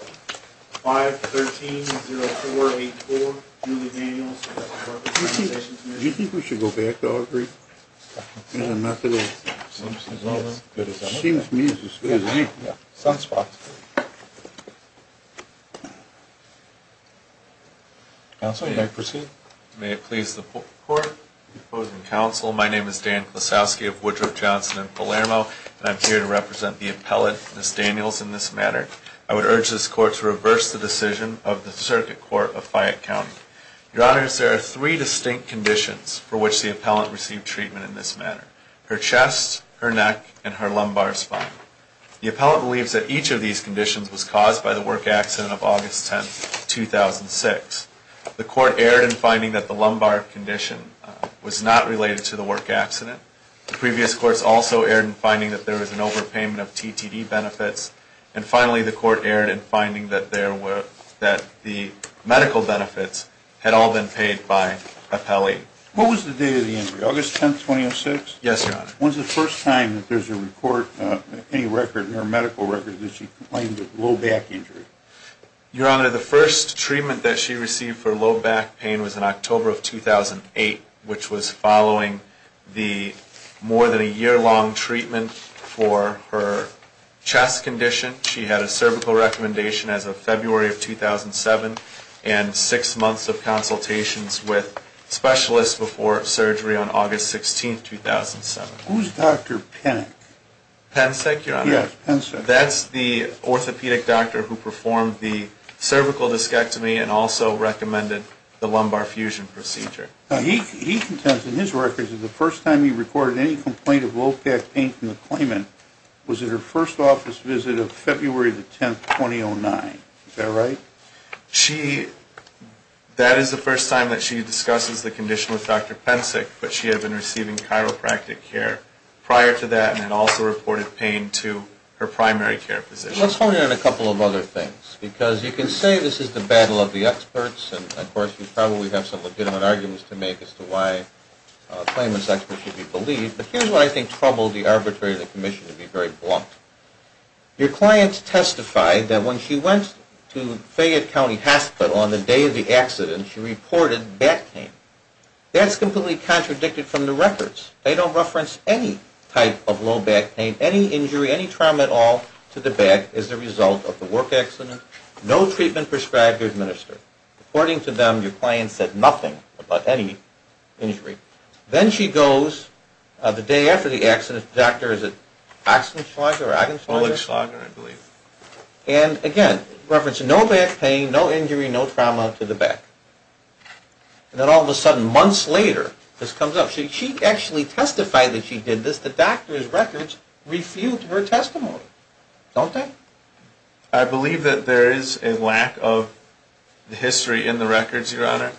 513-0484, Julie Daniels, Workers' Compensation Commission Do you think we should go back to our brief? There's a method of... It seems to me it's as good as it is. Sounds possible. Counsel, you may proceed. May it please the court, opposing counsel, my name is Dan Klosowski of Woodruff, Johnson & Palermo, and I'm here to represent the appellate, Miss Daniels, in this matter. I would urge this court to reverse the decision of the Circuit Court of Fayette County. Your Honors, there are three distinct conditions for which the appellant received treatment in this matter. Her chest, her neck, and her lumbar spine. The appellant believes that each of these conditions was caused by the work accident of August 10, 2006. The court erred in finding that the lumbar condition was not related to the work accident. The previous courts also erred in finding that there was an overpayment of TTD benefits. And finally, the court erred in finding that the medical benefits had all been paid by appellate. What was the date of the injury, August 10, 2006? Yes, Your Honor. When was the first time that there's a record, any record in her medical record, that she complained of low back injury? Your Honor, the first treatment that she received for low back pain was in October of 2008, which was following the more than a year-long treatment for her chest condition. She had a cervical recommendation as of February of 2007, and six months of consultations with specialists before surgery on August 16, 2007. Who's Dr. Penick? Penick, Your Honor? Yes, Penick. That's the orthopedic doctor who performed the cervical discectomy and also recommended the lumbar fusion procedure. He contends in his records that the first time he recorded any complaint of low back pain from the claimant was at her first office visit of February the 10th, 2009. Is that right? She, that is the first time that she discusses the condition with Dr. Penick, but she had been receiving chiropractic care prior to that and had also reported pain to her primary care physician. Let's hone in on a couple of other things, because you can say this is the battle of the experts, and, of course, you probably have some legitimate arguments to make as to why claimants' experts should be believed, but here's what I think troubled the arbitrator of the commission to be very blunt. Your client testified that when she went to Fayette County Hospital on the day of the accident, she reported back pain. That's completely contradicted from the records. They don't reference any type of low back pain, any injury, any trauma at all to the back as a result of the work accident. No treatment prescribed or administered. According to them, your client said nothing about any injury. Then she goes the day after the accident to the doctor. Is it Oxenschlager or Agenschlager? Oleg Schlager, I believe. And, again, reference no back pain, no injury, no trauma to the back. And then all of a sudden, months later, this comes up. She actually testified that she did this. The doctor's records refute her testimony, don't they? I believe that there is a lack of history in the records, Your Honor.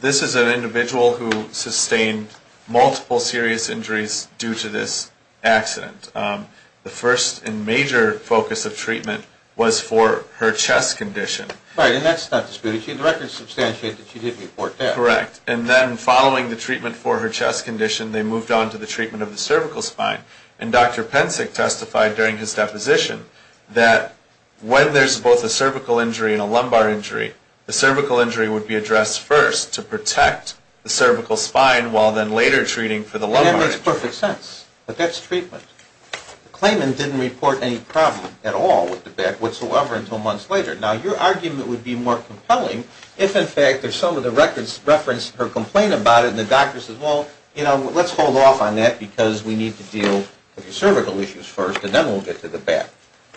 This is an individual who sustained multiple serious injuries due to this accident. The first and major focus of treatment was for her chest condition. Right, and that's not disputed. The records substantiate that she did report that. Correct. And then following the treatment for her chest condition, they moved on to the treatment of the cervical spine. And Dr. Pensick testified during his deposition that when there's both a cervical injury and a lumbar injury, the cervical injury would be addressed first to protect the cervical spine, while then later treating for the lumbar injury. That makes perfect sense. But that's treatment. The claimant didn't report any problem at all with the back whatsoever until months later. Now, your argument would be more compelling if, in fact, if some of the records referenced her complaint about it, and the doctor says, well, you know, let's hold off on that because we need to deal with the cervical issues first, and then we'll get to the back.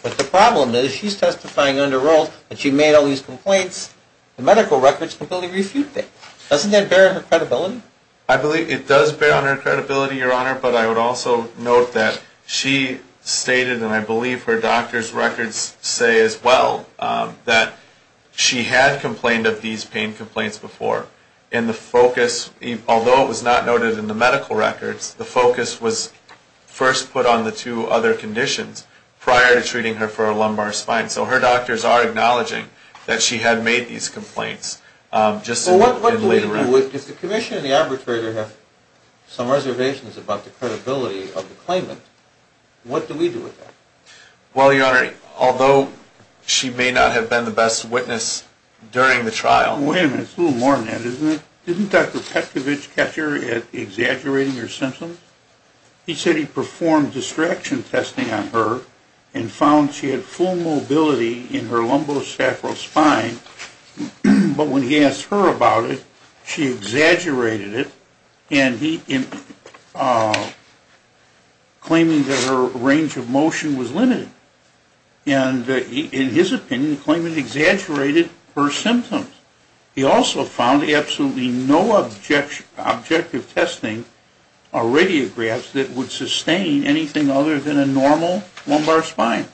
But the problem is she's testifying under oath, and she made all these complaints. The medical records completely refute that. Doesn't that bear on her credibility? I believe it does bear on her credibility, Your Honor, but I would also note that she stated, and I believe her doctor's records say as well, that she had complained of these pain complaints before. And the focus, although it was not noted in the medical records, the focus was first put on the two other conditions prior to treating her for a lumbar spine. So her doctors are acknowledging that she had made these complaints just in later records. Well, what do we do? If the commission and the arbitrator have some reservations about the credibility of the claimant, what do we do with that? Well, Your Honor, although she may not have been the best witness during the trial, Wait a minute. It's a little more than that, isn't it? Didn't Dr. Petrovich catch her at exaggerating her symptoms? He said he performed distraction testing on her and found she had full mobility in her lumbosacral spine, but when he asked her about it, she exaggerated it, claiming that her range of motion was limited. And in his opinion, the claimant exaggerated her symptoms. He also found absolutely no objective testing or radiographs that would sustain anything other than a normal lumbar spine.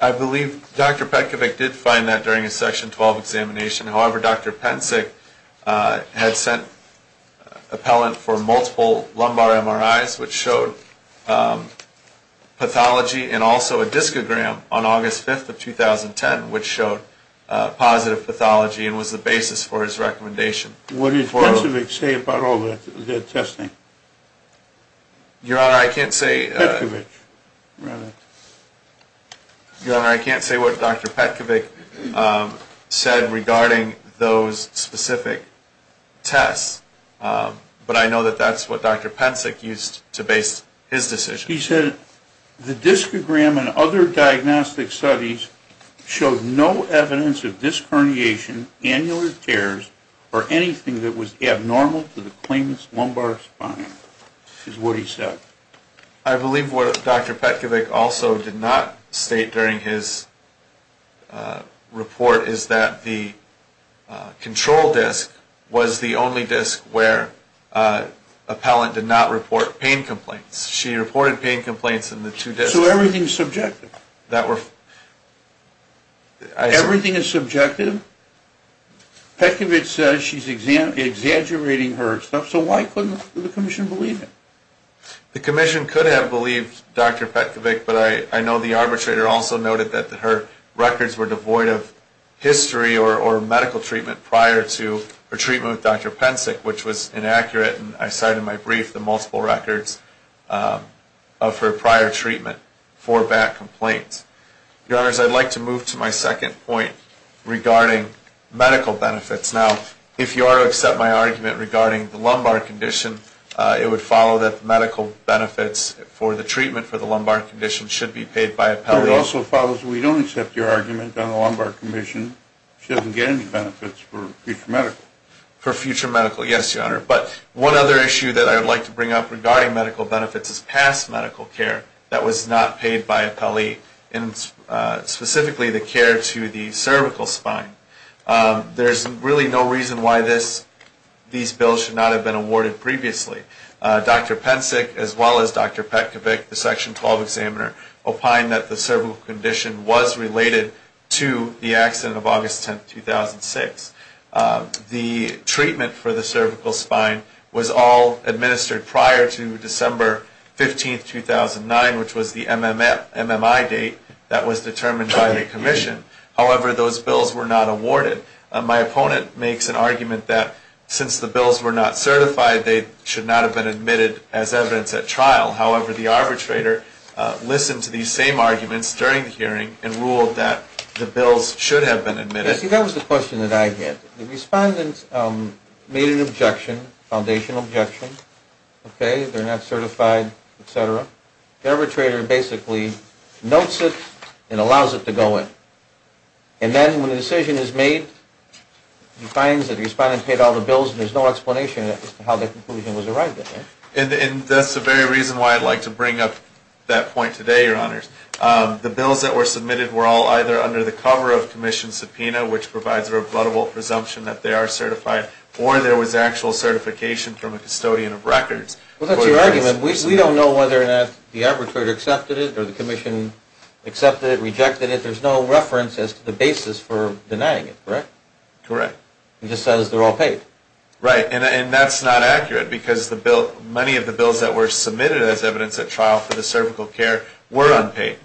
I believe Dr. Petrovich did find that during his Section 12 examination. However, Dr. Pensick had sent appellant for multiple lumbar MRIs, which showed pathology, and also a discogram on August 5th of 2010, which showed positive pathology and was the basis for his recommendation. What did Pensick say about all that testing? Your Honor, I can't say... Petrovich. Your Honor, I can't say what Dr. Petrovich said regarding those specific tests, but I know that that's what Dr. Pensick used to base his decision. He said the discogram and other diagnostic studies showed no evidence of disc herniation, annular tears, or anything that was abnormal to the claimant's lumbar spine, is what he said. I believe what Dr. Petrovich also did not state during his report is that the control disc was the only disc where appellant did not report pain complaints. She reported pain complaints in the two discs. So everything is subjective? Everything is subjective? Petrovich says she's exaggerating her stuff, so why couldn't the Commission believe it? The Commission could have believed Dr. Petrovich, but I know the arbitrator also noted that her records were devoid of history or medical treatment prior to her treatment with Dr. Pensick, which was inaccurate, and I cite in my brief the multiple records of her prior treatment for back complaints. Your Honors, I'd like to move to my second point regarding medical benefits. Now, if you are to accept my argument regarding the lumbar condition, it would follow that medical benefits for the treatment for the lumbar condition should be paid by appellee. It also follows that we don't accept your argument on the lumbar condition. She doesn't get any benefits for future medical. For future medical, yes, Your Honor. But one other issue that I would like to bring up regarding medical benefits is past medical care that was not paid by appellee, and specifically the care to the cervical spine. There's really no reason why these bills should not have been awarded previously. Dr. Pensick, as well as Dr. Petrovich, the Section 12 examiner, opined that the cervical condition was related to the accident of August 10, 2006. The treatment for the cervical spine was all administered prior to December 15, 2009, which was the MMI date that was determined by the Commission. However, those bills were not awarded. My opponent makes an argument that since the bills were not certified, they should not have been admitted as evidence at trial. However, the arbitrator listened to these same arguments during the hearing and ruled that the bills should have been admitted. See, that was the question that I had. The respondent made an objection, foundational objection. Okay, they're not certified, et cetera. The arbitrator basically notes it and allows it to go in. And then when a decision is made, he finds that the respondent paid all the bills and there's no explanation as to how the conclusion was arrived at. And that's the very reason why I'd like to bring up that point today, Your Honors. The bills that were submitted were all either under the cover of Commission subpoena, which provides a rebuttable presumption that they are certified, or there was actual certification from a custodian of records. Well, that's your argument. We don't know whether or not the arbitrator accepted it or the Commission accepted it, rejected it. There's no reference as to the basis for denying it, correct? Correct. It just says they're all paid. Right. And that's not accurate because many of the bills that were submitted as evidence at trial for the cervical care were unpaid.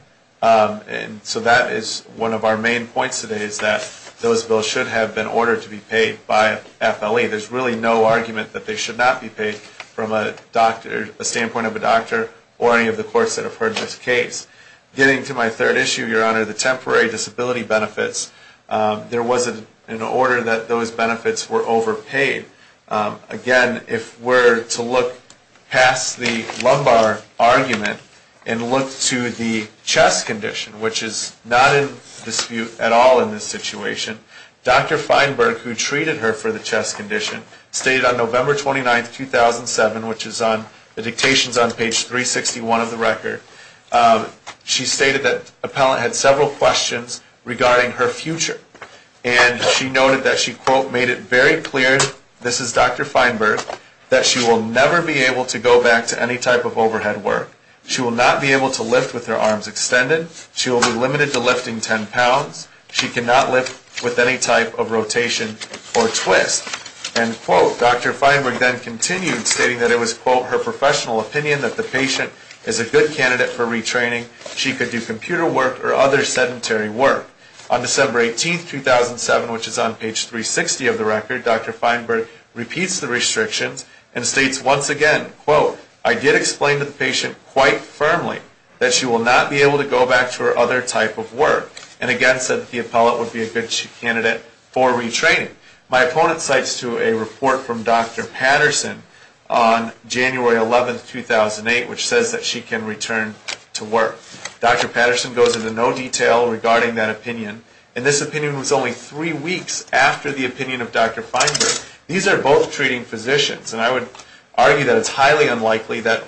And so that is one of our main points today is that those bills should have been ordered to be paid by FLE. There's really no argument that they should not be paid from a standpoint of a doctor or any of the courts that have heard this case. Getting to my third issue, Your Honor, the temporary disability benefits, there was an order that those benefits were overpaid. Again, if we're to look past the lumbar argument and look to the chest condition, which is not in dispute at all in this situation, Dr. Feinberg, who treated her for the chest condition, stated on November 29, 2007, which is on the dictations on page 361 of the record, she stated that an appellant had several questions regarding her future. And she noted that she, quote, made it very clear, this is Dr. Feinberg, that she will never be able to go back to any type of overhead work. She will not be able to lift with her arms extended. She will be limited to lifting 10 pounds. She cannot lift with any type of rotation or twist. And, quote, Dr. Feinberg then continued, stating that it was, quote, her professional opinion that the patient is a good candidate for retraining. She could do computer work or other sedentary work. On December 18, 2007, which is on page 360 of the record, Dr. Feinberg repeats the restrictions and states once again, quote, I did explain to the patient quite firmly that she will not be able to go back to her other type of work. And again said that the appellant would be a good candidate for retraining. My opponent cites to a report from Dr. Patterson on January 11, 2008, which says that she can return to work. Dr. Patterson goes into no detail regarding that opinion. And this opinion was only three weeks after the opinion of Dr. Feinberg. These are both treating physicians. And I would argue that it's highly unlikely that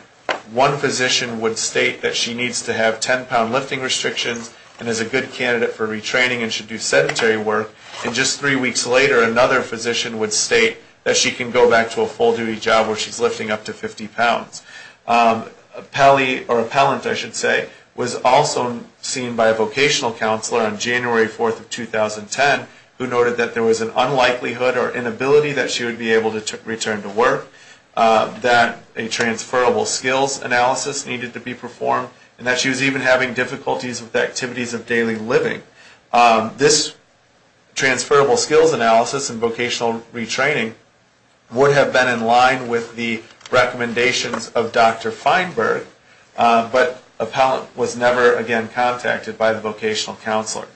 one physician would state that she needs to have 10-pound lifting restrictions and is a good candidate for retraining and should do sedentary work. And just three weeks later, another physician would state that she can go back to a full-duty job where she's lifting up to 50 pounds. Appellant was also seen by a vocational counselor on January 4, 2010, who noted that there was an unlikelihood or inability that she would be able to return to work, that a transferable skills analysis needed to be performed, and that she was even having difficulties with activities of daily living. This transferable skills analysis and vocational retraining would have been in line with the recommendations of Dr. Feinberg, but appellant was never again contacted by the vocational counselor.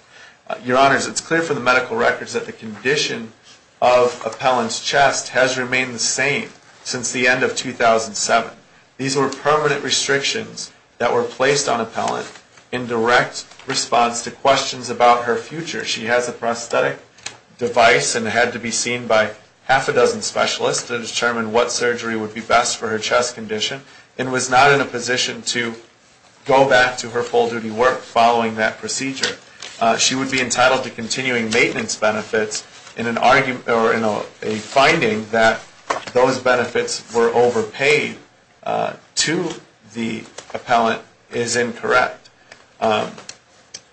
Your Honors, it's clear from the medical records that the condition of appellant's chest has remained the same since the end of 2007. These were permanent restrictions that were placed on appellant in direct response to questions about her future. She has a prosthetic device and had to be seen by half a dozen specialists to determine what surgery would be best for her chest condition and was not in a position to go back to her full-duty work following that procedure. She would be entitled to continuing maintenance benefits and a finding that those benefits were overpaid to the appellant is incorrect. Well,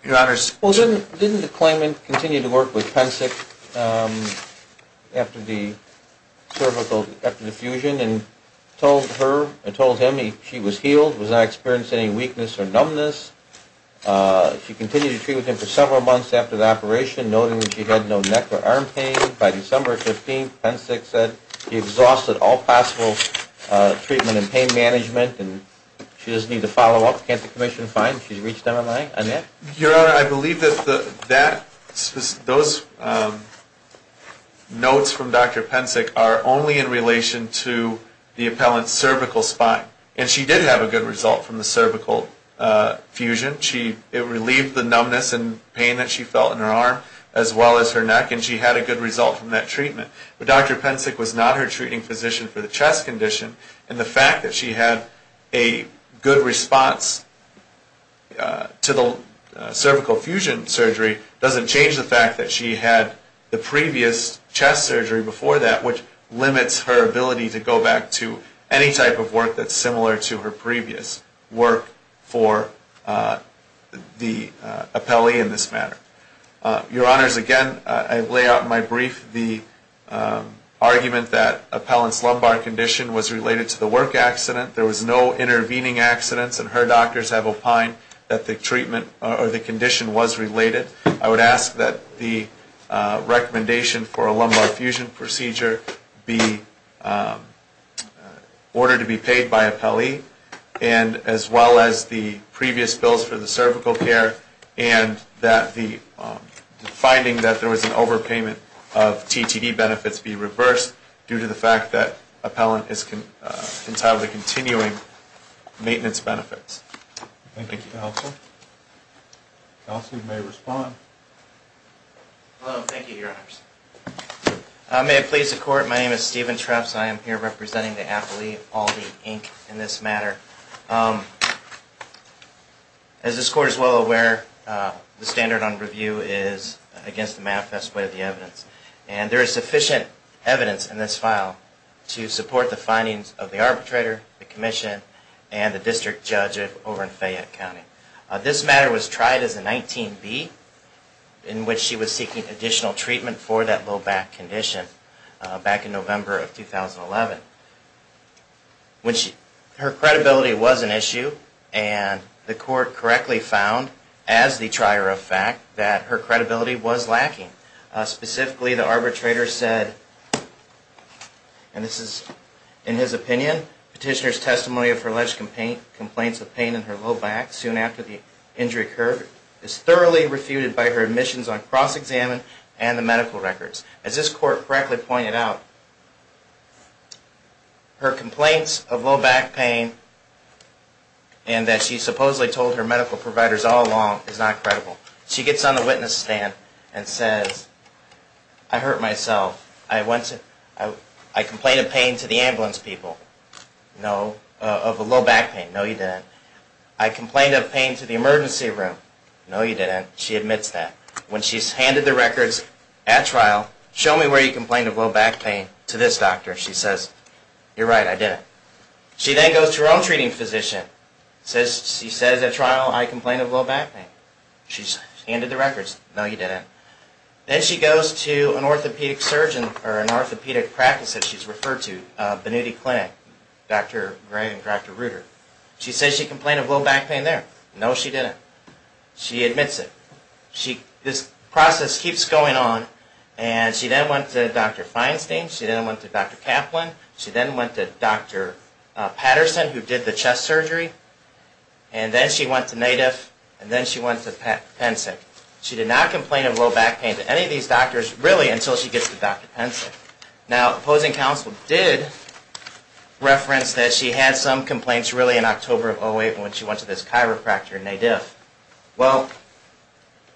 didn't the claimant continue to work with Pensick after the fusion and told him she was healed, was not experiencing any weakness or numbness? She continued to treat with him for several months after the operation, noting that she had no neck or arm pain. By December 15th, Pensick said he exhausted all possible treatment and pain management and she doesn't need to follow up. Can't the commission find she's reached MMI? Annette? Your Honor, I believe that those notes from Dr. Pensick are only in relation to the appellant's cervical spine. And she did have a good result from the cervical fusion. It relieved the numbness and pain that she felt in her arm as well as her neck and she had a good result from that treatment. But Dr. Pensick was not her treating physician for the chest condition and the fact that she had a good response to the cervical fusion surgery doesn't change the fact that she had the previous chest surgery before that which limits her ability to go back to any type of work that's similar to her previous work for the appellee in this matter. Your Honors, again, I lay out in my brief the argument that appellant's lumbar condition was related to the work accident. There was no intervening accidents and her doctors have opined that the treatment or the condition was related. I would ask that the recommendation for a lumbar fusion procedure be ordered to be paid by appellee and as well as the previous bills for the cervical care and that the finding that there was an overpayment of TTD benefits be reversed due to the fact that appellant is entirely continuing maintenance benefits. Thank you, counsel. Counsel may respond. Hello, thank you, Your Honors. May it please the court, my name is Steven Traps. I am here representing the appellee, Aldi, Inc. in this matter. As this court is well aware, the standard on review is against the manifest way of the evidence and there is sufficient evidence in this file to support the findings of the arbitrator, the commission, and the district judge over in Fayette County. This matter was tried as a 19B in which she was seeking additional treatment for that low back condition back in November of 2011. Her credibility was an issue and the court correctly found as the trier of fact that her credibility was lacking. Specifically, the arbitrator said, and this is in his opinion, petitioner's testimony of her alleged complaints of pain in her low back soon after the injury occurred is thoroughly refuted by her admissions on cross-examined and the medical records. As this court correctly pointed out, her complaints of low back pain and that she supposedly told her medical providers all along is not credible. She gets on the witness stand and says, I hurt myself. I complained of pain to the ambulance people. No, of low back pain. No, you didn't. I complained of pain to the emergency room. No, you didn't. She admits that. When she's handed the records at trial, show me where you complained of low back pain to this doctor. She says, you're right, I didn't. She then goes to her own treating physician. She says at trial, I complained of low back pain. She's handed the records. No, you didn't. Then she goes to an orthopedic surgeon or an orthopedic practice that she's referred to, Benuti Clinic, Dr. Gray and Dr. Reuter. She says she complained of low back pain there. No, she didn't. She admits it. This process keeps going on. She then went to Dr. Feinstein. She then went to Dr. Kaplan. She then went to Dr. Patterson, who did the chest surgery. And then she went to NADF. And then she went to PENCIC. She did not complain of low back pain to any of these doctors, really, until she gets to Dr. PENCIC. Now, opposing counsel did reference that she had some complaints, really, in October of 2008 when she went to this chiropractor in NADF. Well,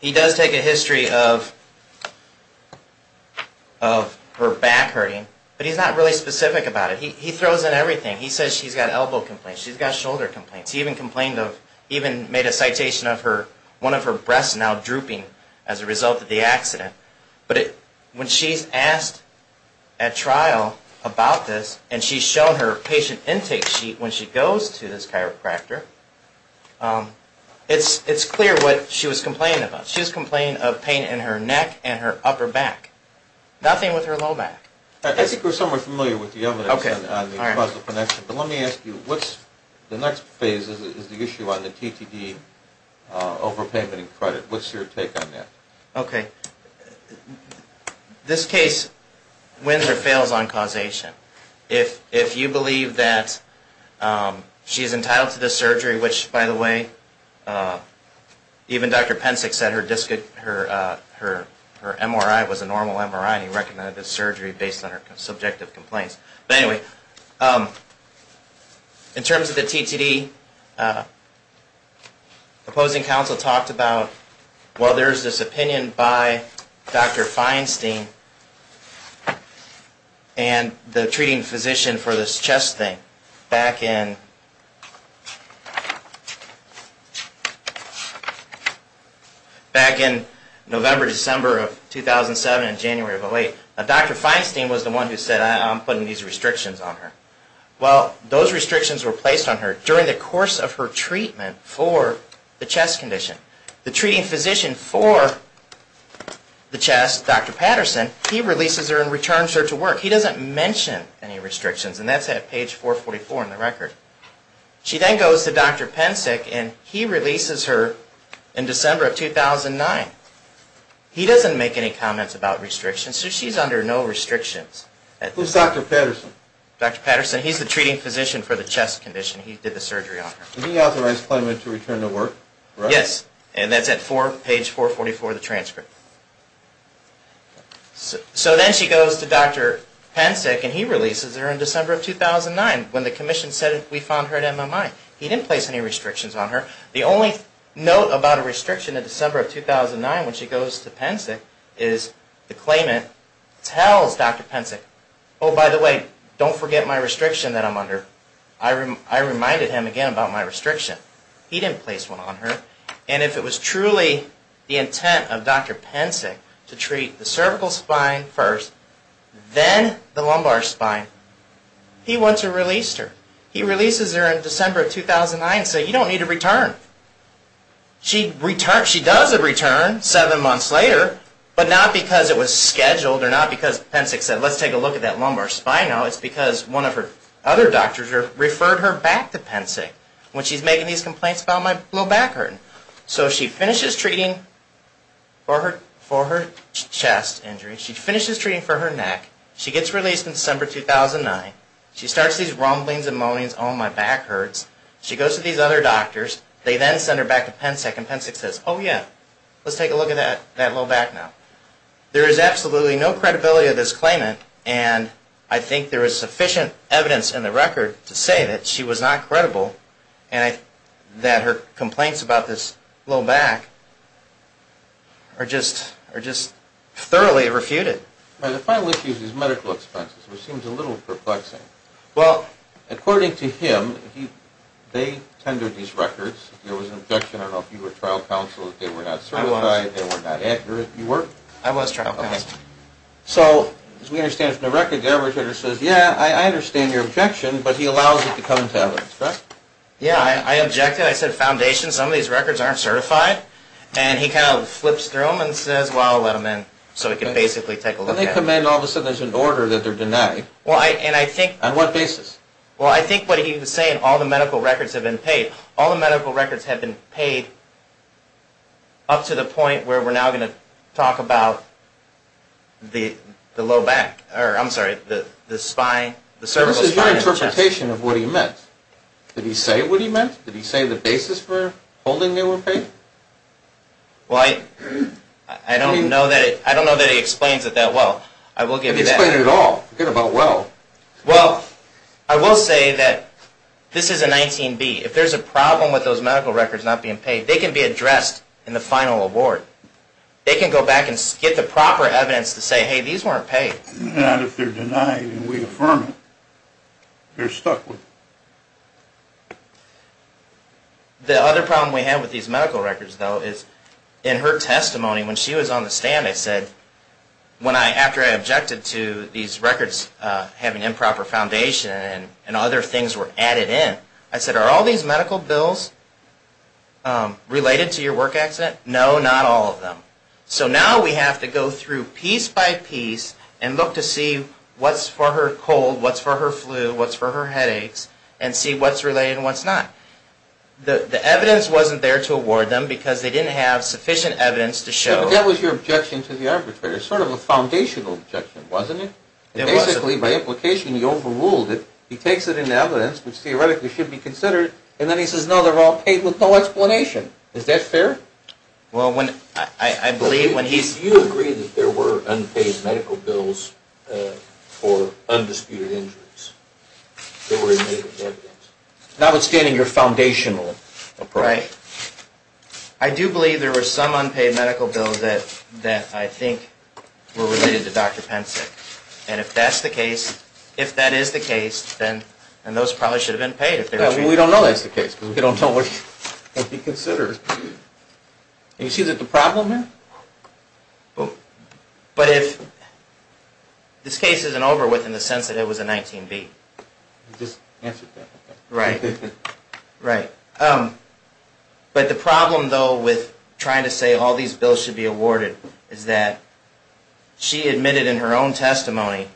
he does take a history of her back hurting, but he's not really specific about it. He throws in everything. He says she's got elbow complaints. She's got shoulder complaints. He even made a citation of one of her breasts now drooping as a result of the accident. But when she's asked at trial about this, and she's shown her patient intake sheet when she goes to this chiropractor, it's clear what she was complaining about. She was complaining of pain in her neck and her upper back. Nothing with her low back. I think we're somewhat familiar with the evidence on the causal connection. But let me ask you, the next phase is the issue on the TTD overpayment and credit. What's your take on that? Okay. This case wins or fails on causation. If you believe that she's entitled to this surgery, which, by the way, even Dr. Pensick said her MRI was a normal MRI and he recommended this surgery based on her subjective complaints. But anyway, in terms of the TTD, opposing counsel talked about, well, there's this opinion by Dr. Feinstein and the treating physician for this chest thing. Back in November, December of 2007 and January of 2008, Dr. Feinstein was the one who said, I'm putting these restrictions on her. Well, those restrictions were placed on her during the course of her treatment for the chest condition. The treating physician for the chest, Dr. Patterson, he releases her and returns her to work. He doesn't mention any restrictions. And that's at page 444 in the record. She then goes to Dr. Pensick and he releases her in December of 2009. He doesn't make any comments about restrictions. So she's under no restrictions. Who's Dr. Patterson? Dr. Patterson, he's the treating physician for the chest condition. He did the surgery on her. He authorized Clayman to return to work, correct? Yes, and that's at page 444 of the transcript. So then she goes to Dr. Pensick and he releases her in December of 2009 when the commission said we found her at MMI. He didn't place any restrictions on her. The only note about a restriction in December of 2009 when she goes to Pensick is that Clayman tells Dr. Pensick, oh, by the way, don't forget my restriction that I'm under. I reminded him again about my restriction. He didn't place one on her. And if it was truly the intent of Dr. Pensick to treat the cervical spine first, then the lumbar spine, he wants to release her. He releases her in December of 2009 and says you don't need to return. She does return 7 months later, but not because it was scheduled or not because Pensick said let's take a look at that lumbar spine now. It's because one of her other doctors referred her back to Pensick when she's making these complaints about my low back hurting. So she finishes treating for her chest injury. She finishes treating for her neck. She gets released in December 2009. She starts these rumblings and moanings, oh, my back hurts. She goes to these other doctors. They then send her back to Pensick and Pensick says, oh, yeah, let's take a look at that low back now. There is absolutely no credibility of this Clayman and I think there is sufficient evidence in the record to say that she was not credible and that her complaints about this low back are just thoroughly refuted. The final issue is medical expenses, which seems a little perplexing. Well, according to him, they tendered these records. There was an objection, I don't know if you were trial counsel, that they were not certified, they were not accurate. You were? I was trial counsel. Okay. So as we understand from the record, the arbitrator says, yeah, I understand your objection, but he allows it to come to evidence, right? Yeah, I objected. I said foundation, some of these records aren't certified. And he kind of flips through them and says, well, I'll let them in so we can basically take a look at them. Then they come in and all of a sudden there's an order that they're denied. On what basis? Well, I think what he was saying, all the medical records have been paid. All the medical records have been paid up to the point where we're now going to talk about the low back. I'm sorry, the cervical spine and chest. This is your interpretation of what he meant. Did he say what he meant? Did he say the basis for holding they were paid? Well, I don't know that he explains it that well. I will give you that. He explained it all. Forget about well. Well, I will say that this is a 19B. If there's a problem with those medical records not being paid, they can be addressed in the final award. They can go back and get the proper evidence to say, hey, these weren't paid. Not if they're denied and we affirm it. They're stuck with it. The other problem we have with these medical records, though, is in her testimony, when she was on the stand, I said, after I objected to these records having improper foundation and other things were added in, I said, are all these medical bills related to your work accident? No, not all of them. So now we have to go through piece by piece and look to see what's for her cold, what's for her flu, what's for her headaches, and see what's related and what's not. The evidence wasn't there to award them because they didn't have sufficient evidence to show. But that was your objection to the arbitrator. Sort of a foundational objection, wasn't it? It was. Basically, by implication, he overruled it. He takes it in evidence, which theoretically should be considered, and then he says, no, they're all paid with no explanation. Is that fair? Well, I believe when he's... Do you agree that there were unpaid medical bills for undisputed injuries? There were unpaid medical bills. Notwithstanding your foundational approach. Right. I do believe there were some unpaid medical bills that I think were related to Dr. Pensick. And if that's the case, if that is the case, then those probably should have been paid. No, we don't know that's the case because we don't know what can be considered. And you see the problem here? But if this case isn't over with in the sense that it was a 19B. I just answered that. Right. Right. But the problem, though, with trying to say all these bills should be awarded is that she admitted in her own testimony,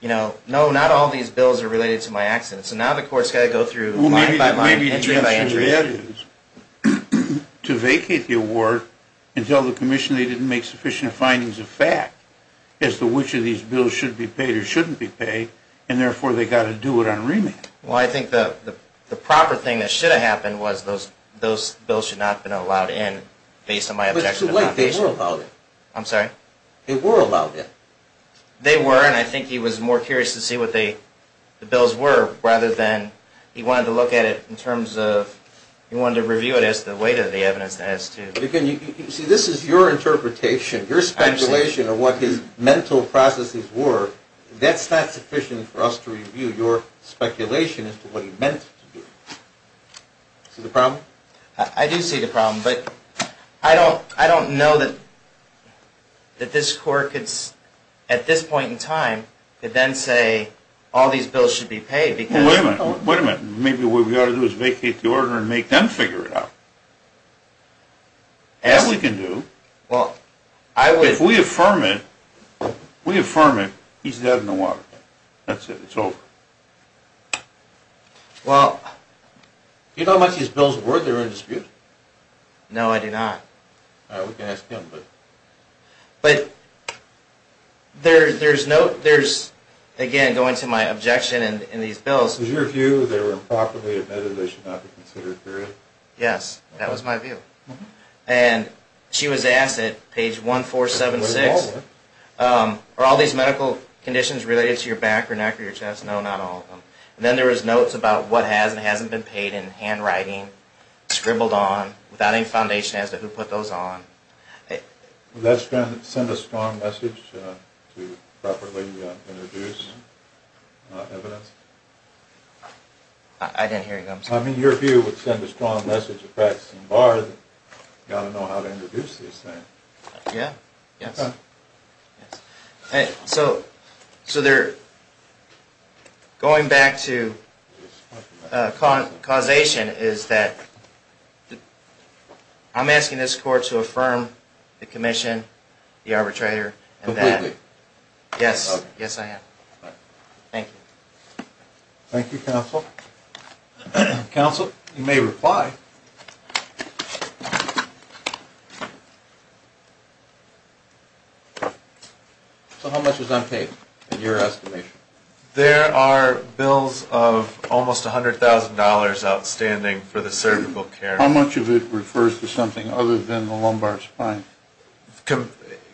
you know, no, not all these bills are related to my accident. So now the court's got to go through line by line, entry by entry. To vacate the award and tell the commission they didn't make sufficient findings of fact as to which of these bills should be paid or shouldn't be paid. And therefore, they've got to do it on remand. Well, I think the proper thing that should have happened was those bills should not have been allowed in based on my objection. They were allowed in. I'm sorry? They were allowed in. They were, and I think he was more curious to see what the bills were rather than he wanted to look at it in terms of he wanted to review it as to the weight of the evidence as to. See, this is your interpretation, your speculation of what his mental processes were. That's not sufficient for us to review your speculation as to what he meant to do. See the problem? I do see the problem, but I don't know that this court could, at this point in time, could then say all these bills should be paid because. Wait a minute. Wait a minute. Maybe what we ought to do is vacate the order and make them figure it out. That we can do. If we affirm it, we affirm it, he's dead in the water. That's it. It's over. Well. Do you know how much these bills were that are in dispute? No, I do not. We can ask him, but. But there's no, there's, again, going to my objection in these bills. Was your view they were improperly admitted, they should not be considered, period? Yes, that was my view. And she was asked at page 1476, are all these medical conditions related to your back or neck or your chest? No, not all of them. And then there was notes about what hasn't been paid in handwriting, scribbled on, without any foundation as to who put those on. Would that send a strong message to properly introduce evidence? I didn't hear you, I'm sorry. I mean, your view would send a strong message to practicing bar that you ought to know how to introduce this thing. Yeah, yes. So, going back to causation, is that I'm asking this court to affirm the commission, the arbitrator, and that. Completely. Yes, yes I am. Thank you. Thank you, counsel. Counsel, you may reply. So how much was unpaid, in your estimation? There are bills of almost $100,000 outstanding for the cervical care. How much of it refers to something other than the lumbar spine?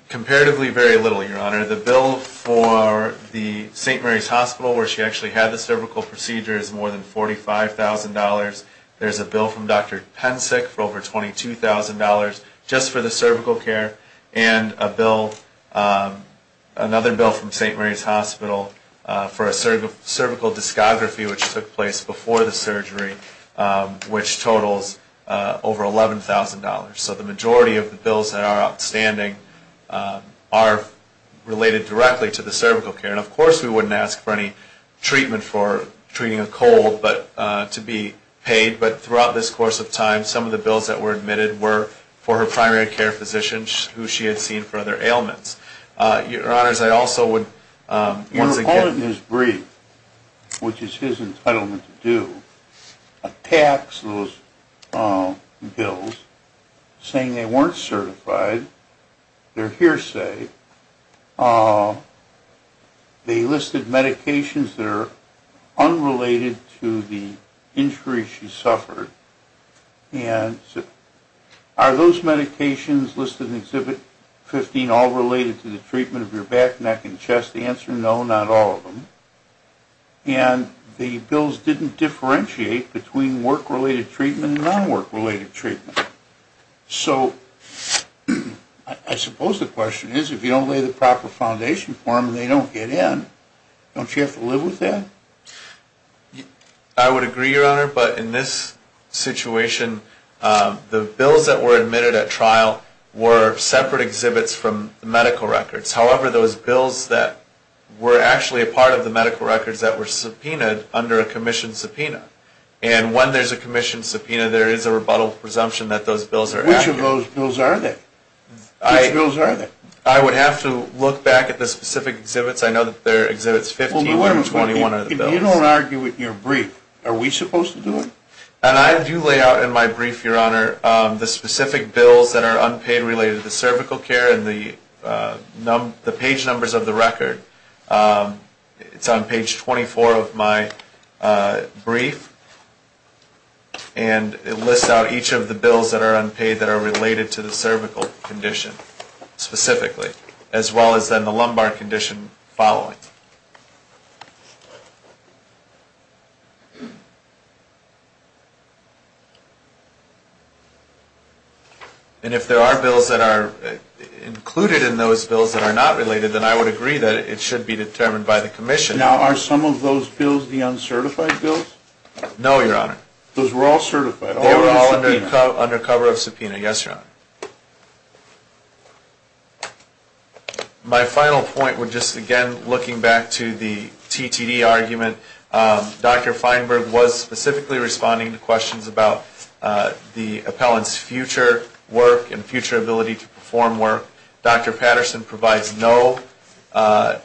Comparatively very little, Your Honor. The bill for the St. Mary's Hospital, where she actually had the cervical procedure, is more than $45,000. There's a bill from Dr. Pensick for over $22,000 just for the cervical care, and another bill from St. Mary's Hospital for a cervical discography, which took place before the surgery, which totals over $11,000. So the majority of the bills that are outstanding are related directly to the cervical care. And, of course, we wouldn't ask for any treatment for treating a cold to be paid, but throughout this course of time, some of the bills that were admitted were for her primary care physician, who she had seen for other ailments. Your Honors, I also would once again ---- Your opponent, Ms. Breed, which is his entitlement to do, attacks those bills saying they weren't certified, they're hearsay, they listed medications that are unrelated to the injuries she suffered, and are those medications listed in Exhibit 15 all related to the treatment of your back, neck, and chest? The answer, no, not all of them. And the bills didn't differentiate between work-related treatment and non-work-related treatment. So I suppose the question is, if you don't lay the proper foundation for them and they don't get in, don't you have to live with that? I would agree, Your Honor, but in this situation, the bills that were admitted at trial were separate exhibits from the medical records. However, those bills that were actually a part of the medical records that were subpoenaed under a commission subpoena. And when there's a commission subpoena, there is a rebuttal presumption that those bills are active. Which of those bills are they? I would have to look back at the specific exhibits. I know that there are Exhibits 15 and 21 are the bills. If you don't argue with your brief, are we supposed to do it? And I do lay out in my brief, Your Honor, the specific bills that are unpaid related to cervical care and the page numbers of the record. It's on page 24 of my brief. And it lists out each of the bills that are unpaid that are related to the cervical condition specifically, as well as then the lumbar condition following. And if there are bills that are included in those bills that are not related, then I would agree that it should be determined by the commission. Now, are some of those bills the uncertified bills? No, Your Honor. Those were all certified? They were all under cover of subpoena. Yes, Your Honor. My final point would just, again, looking back to the TTD argument, Dr. Feinberg was specifically responding to questions about the appellant's future work and future ability to perform work. Dr. Patterson provides no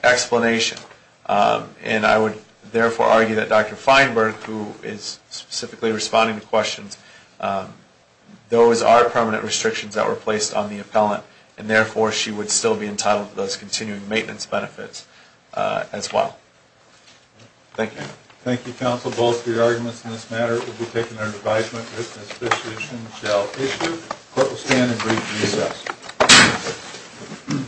explanation. And I would therefore argue that Dr. Feinberg, who is specifically responding to questions, those are permanent restrictions that were placed on the appellant, and therefore she would still be entitled to those continuing maintenance benefits as well. Thank you. Thank you, counsel. Both of your arguments in this matter will be taken under advisement. The appellant's business decision shall issue. Court will stand in brief recess.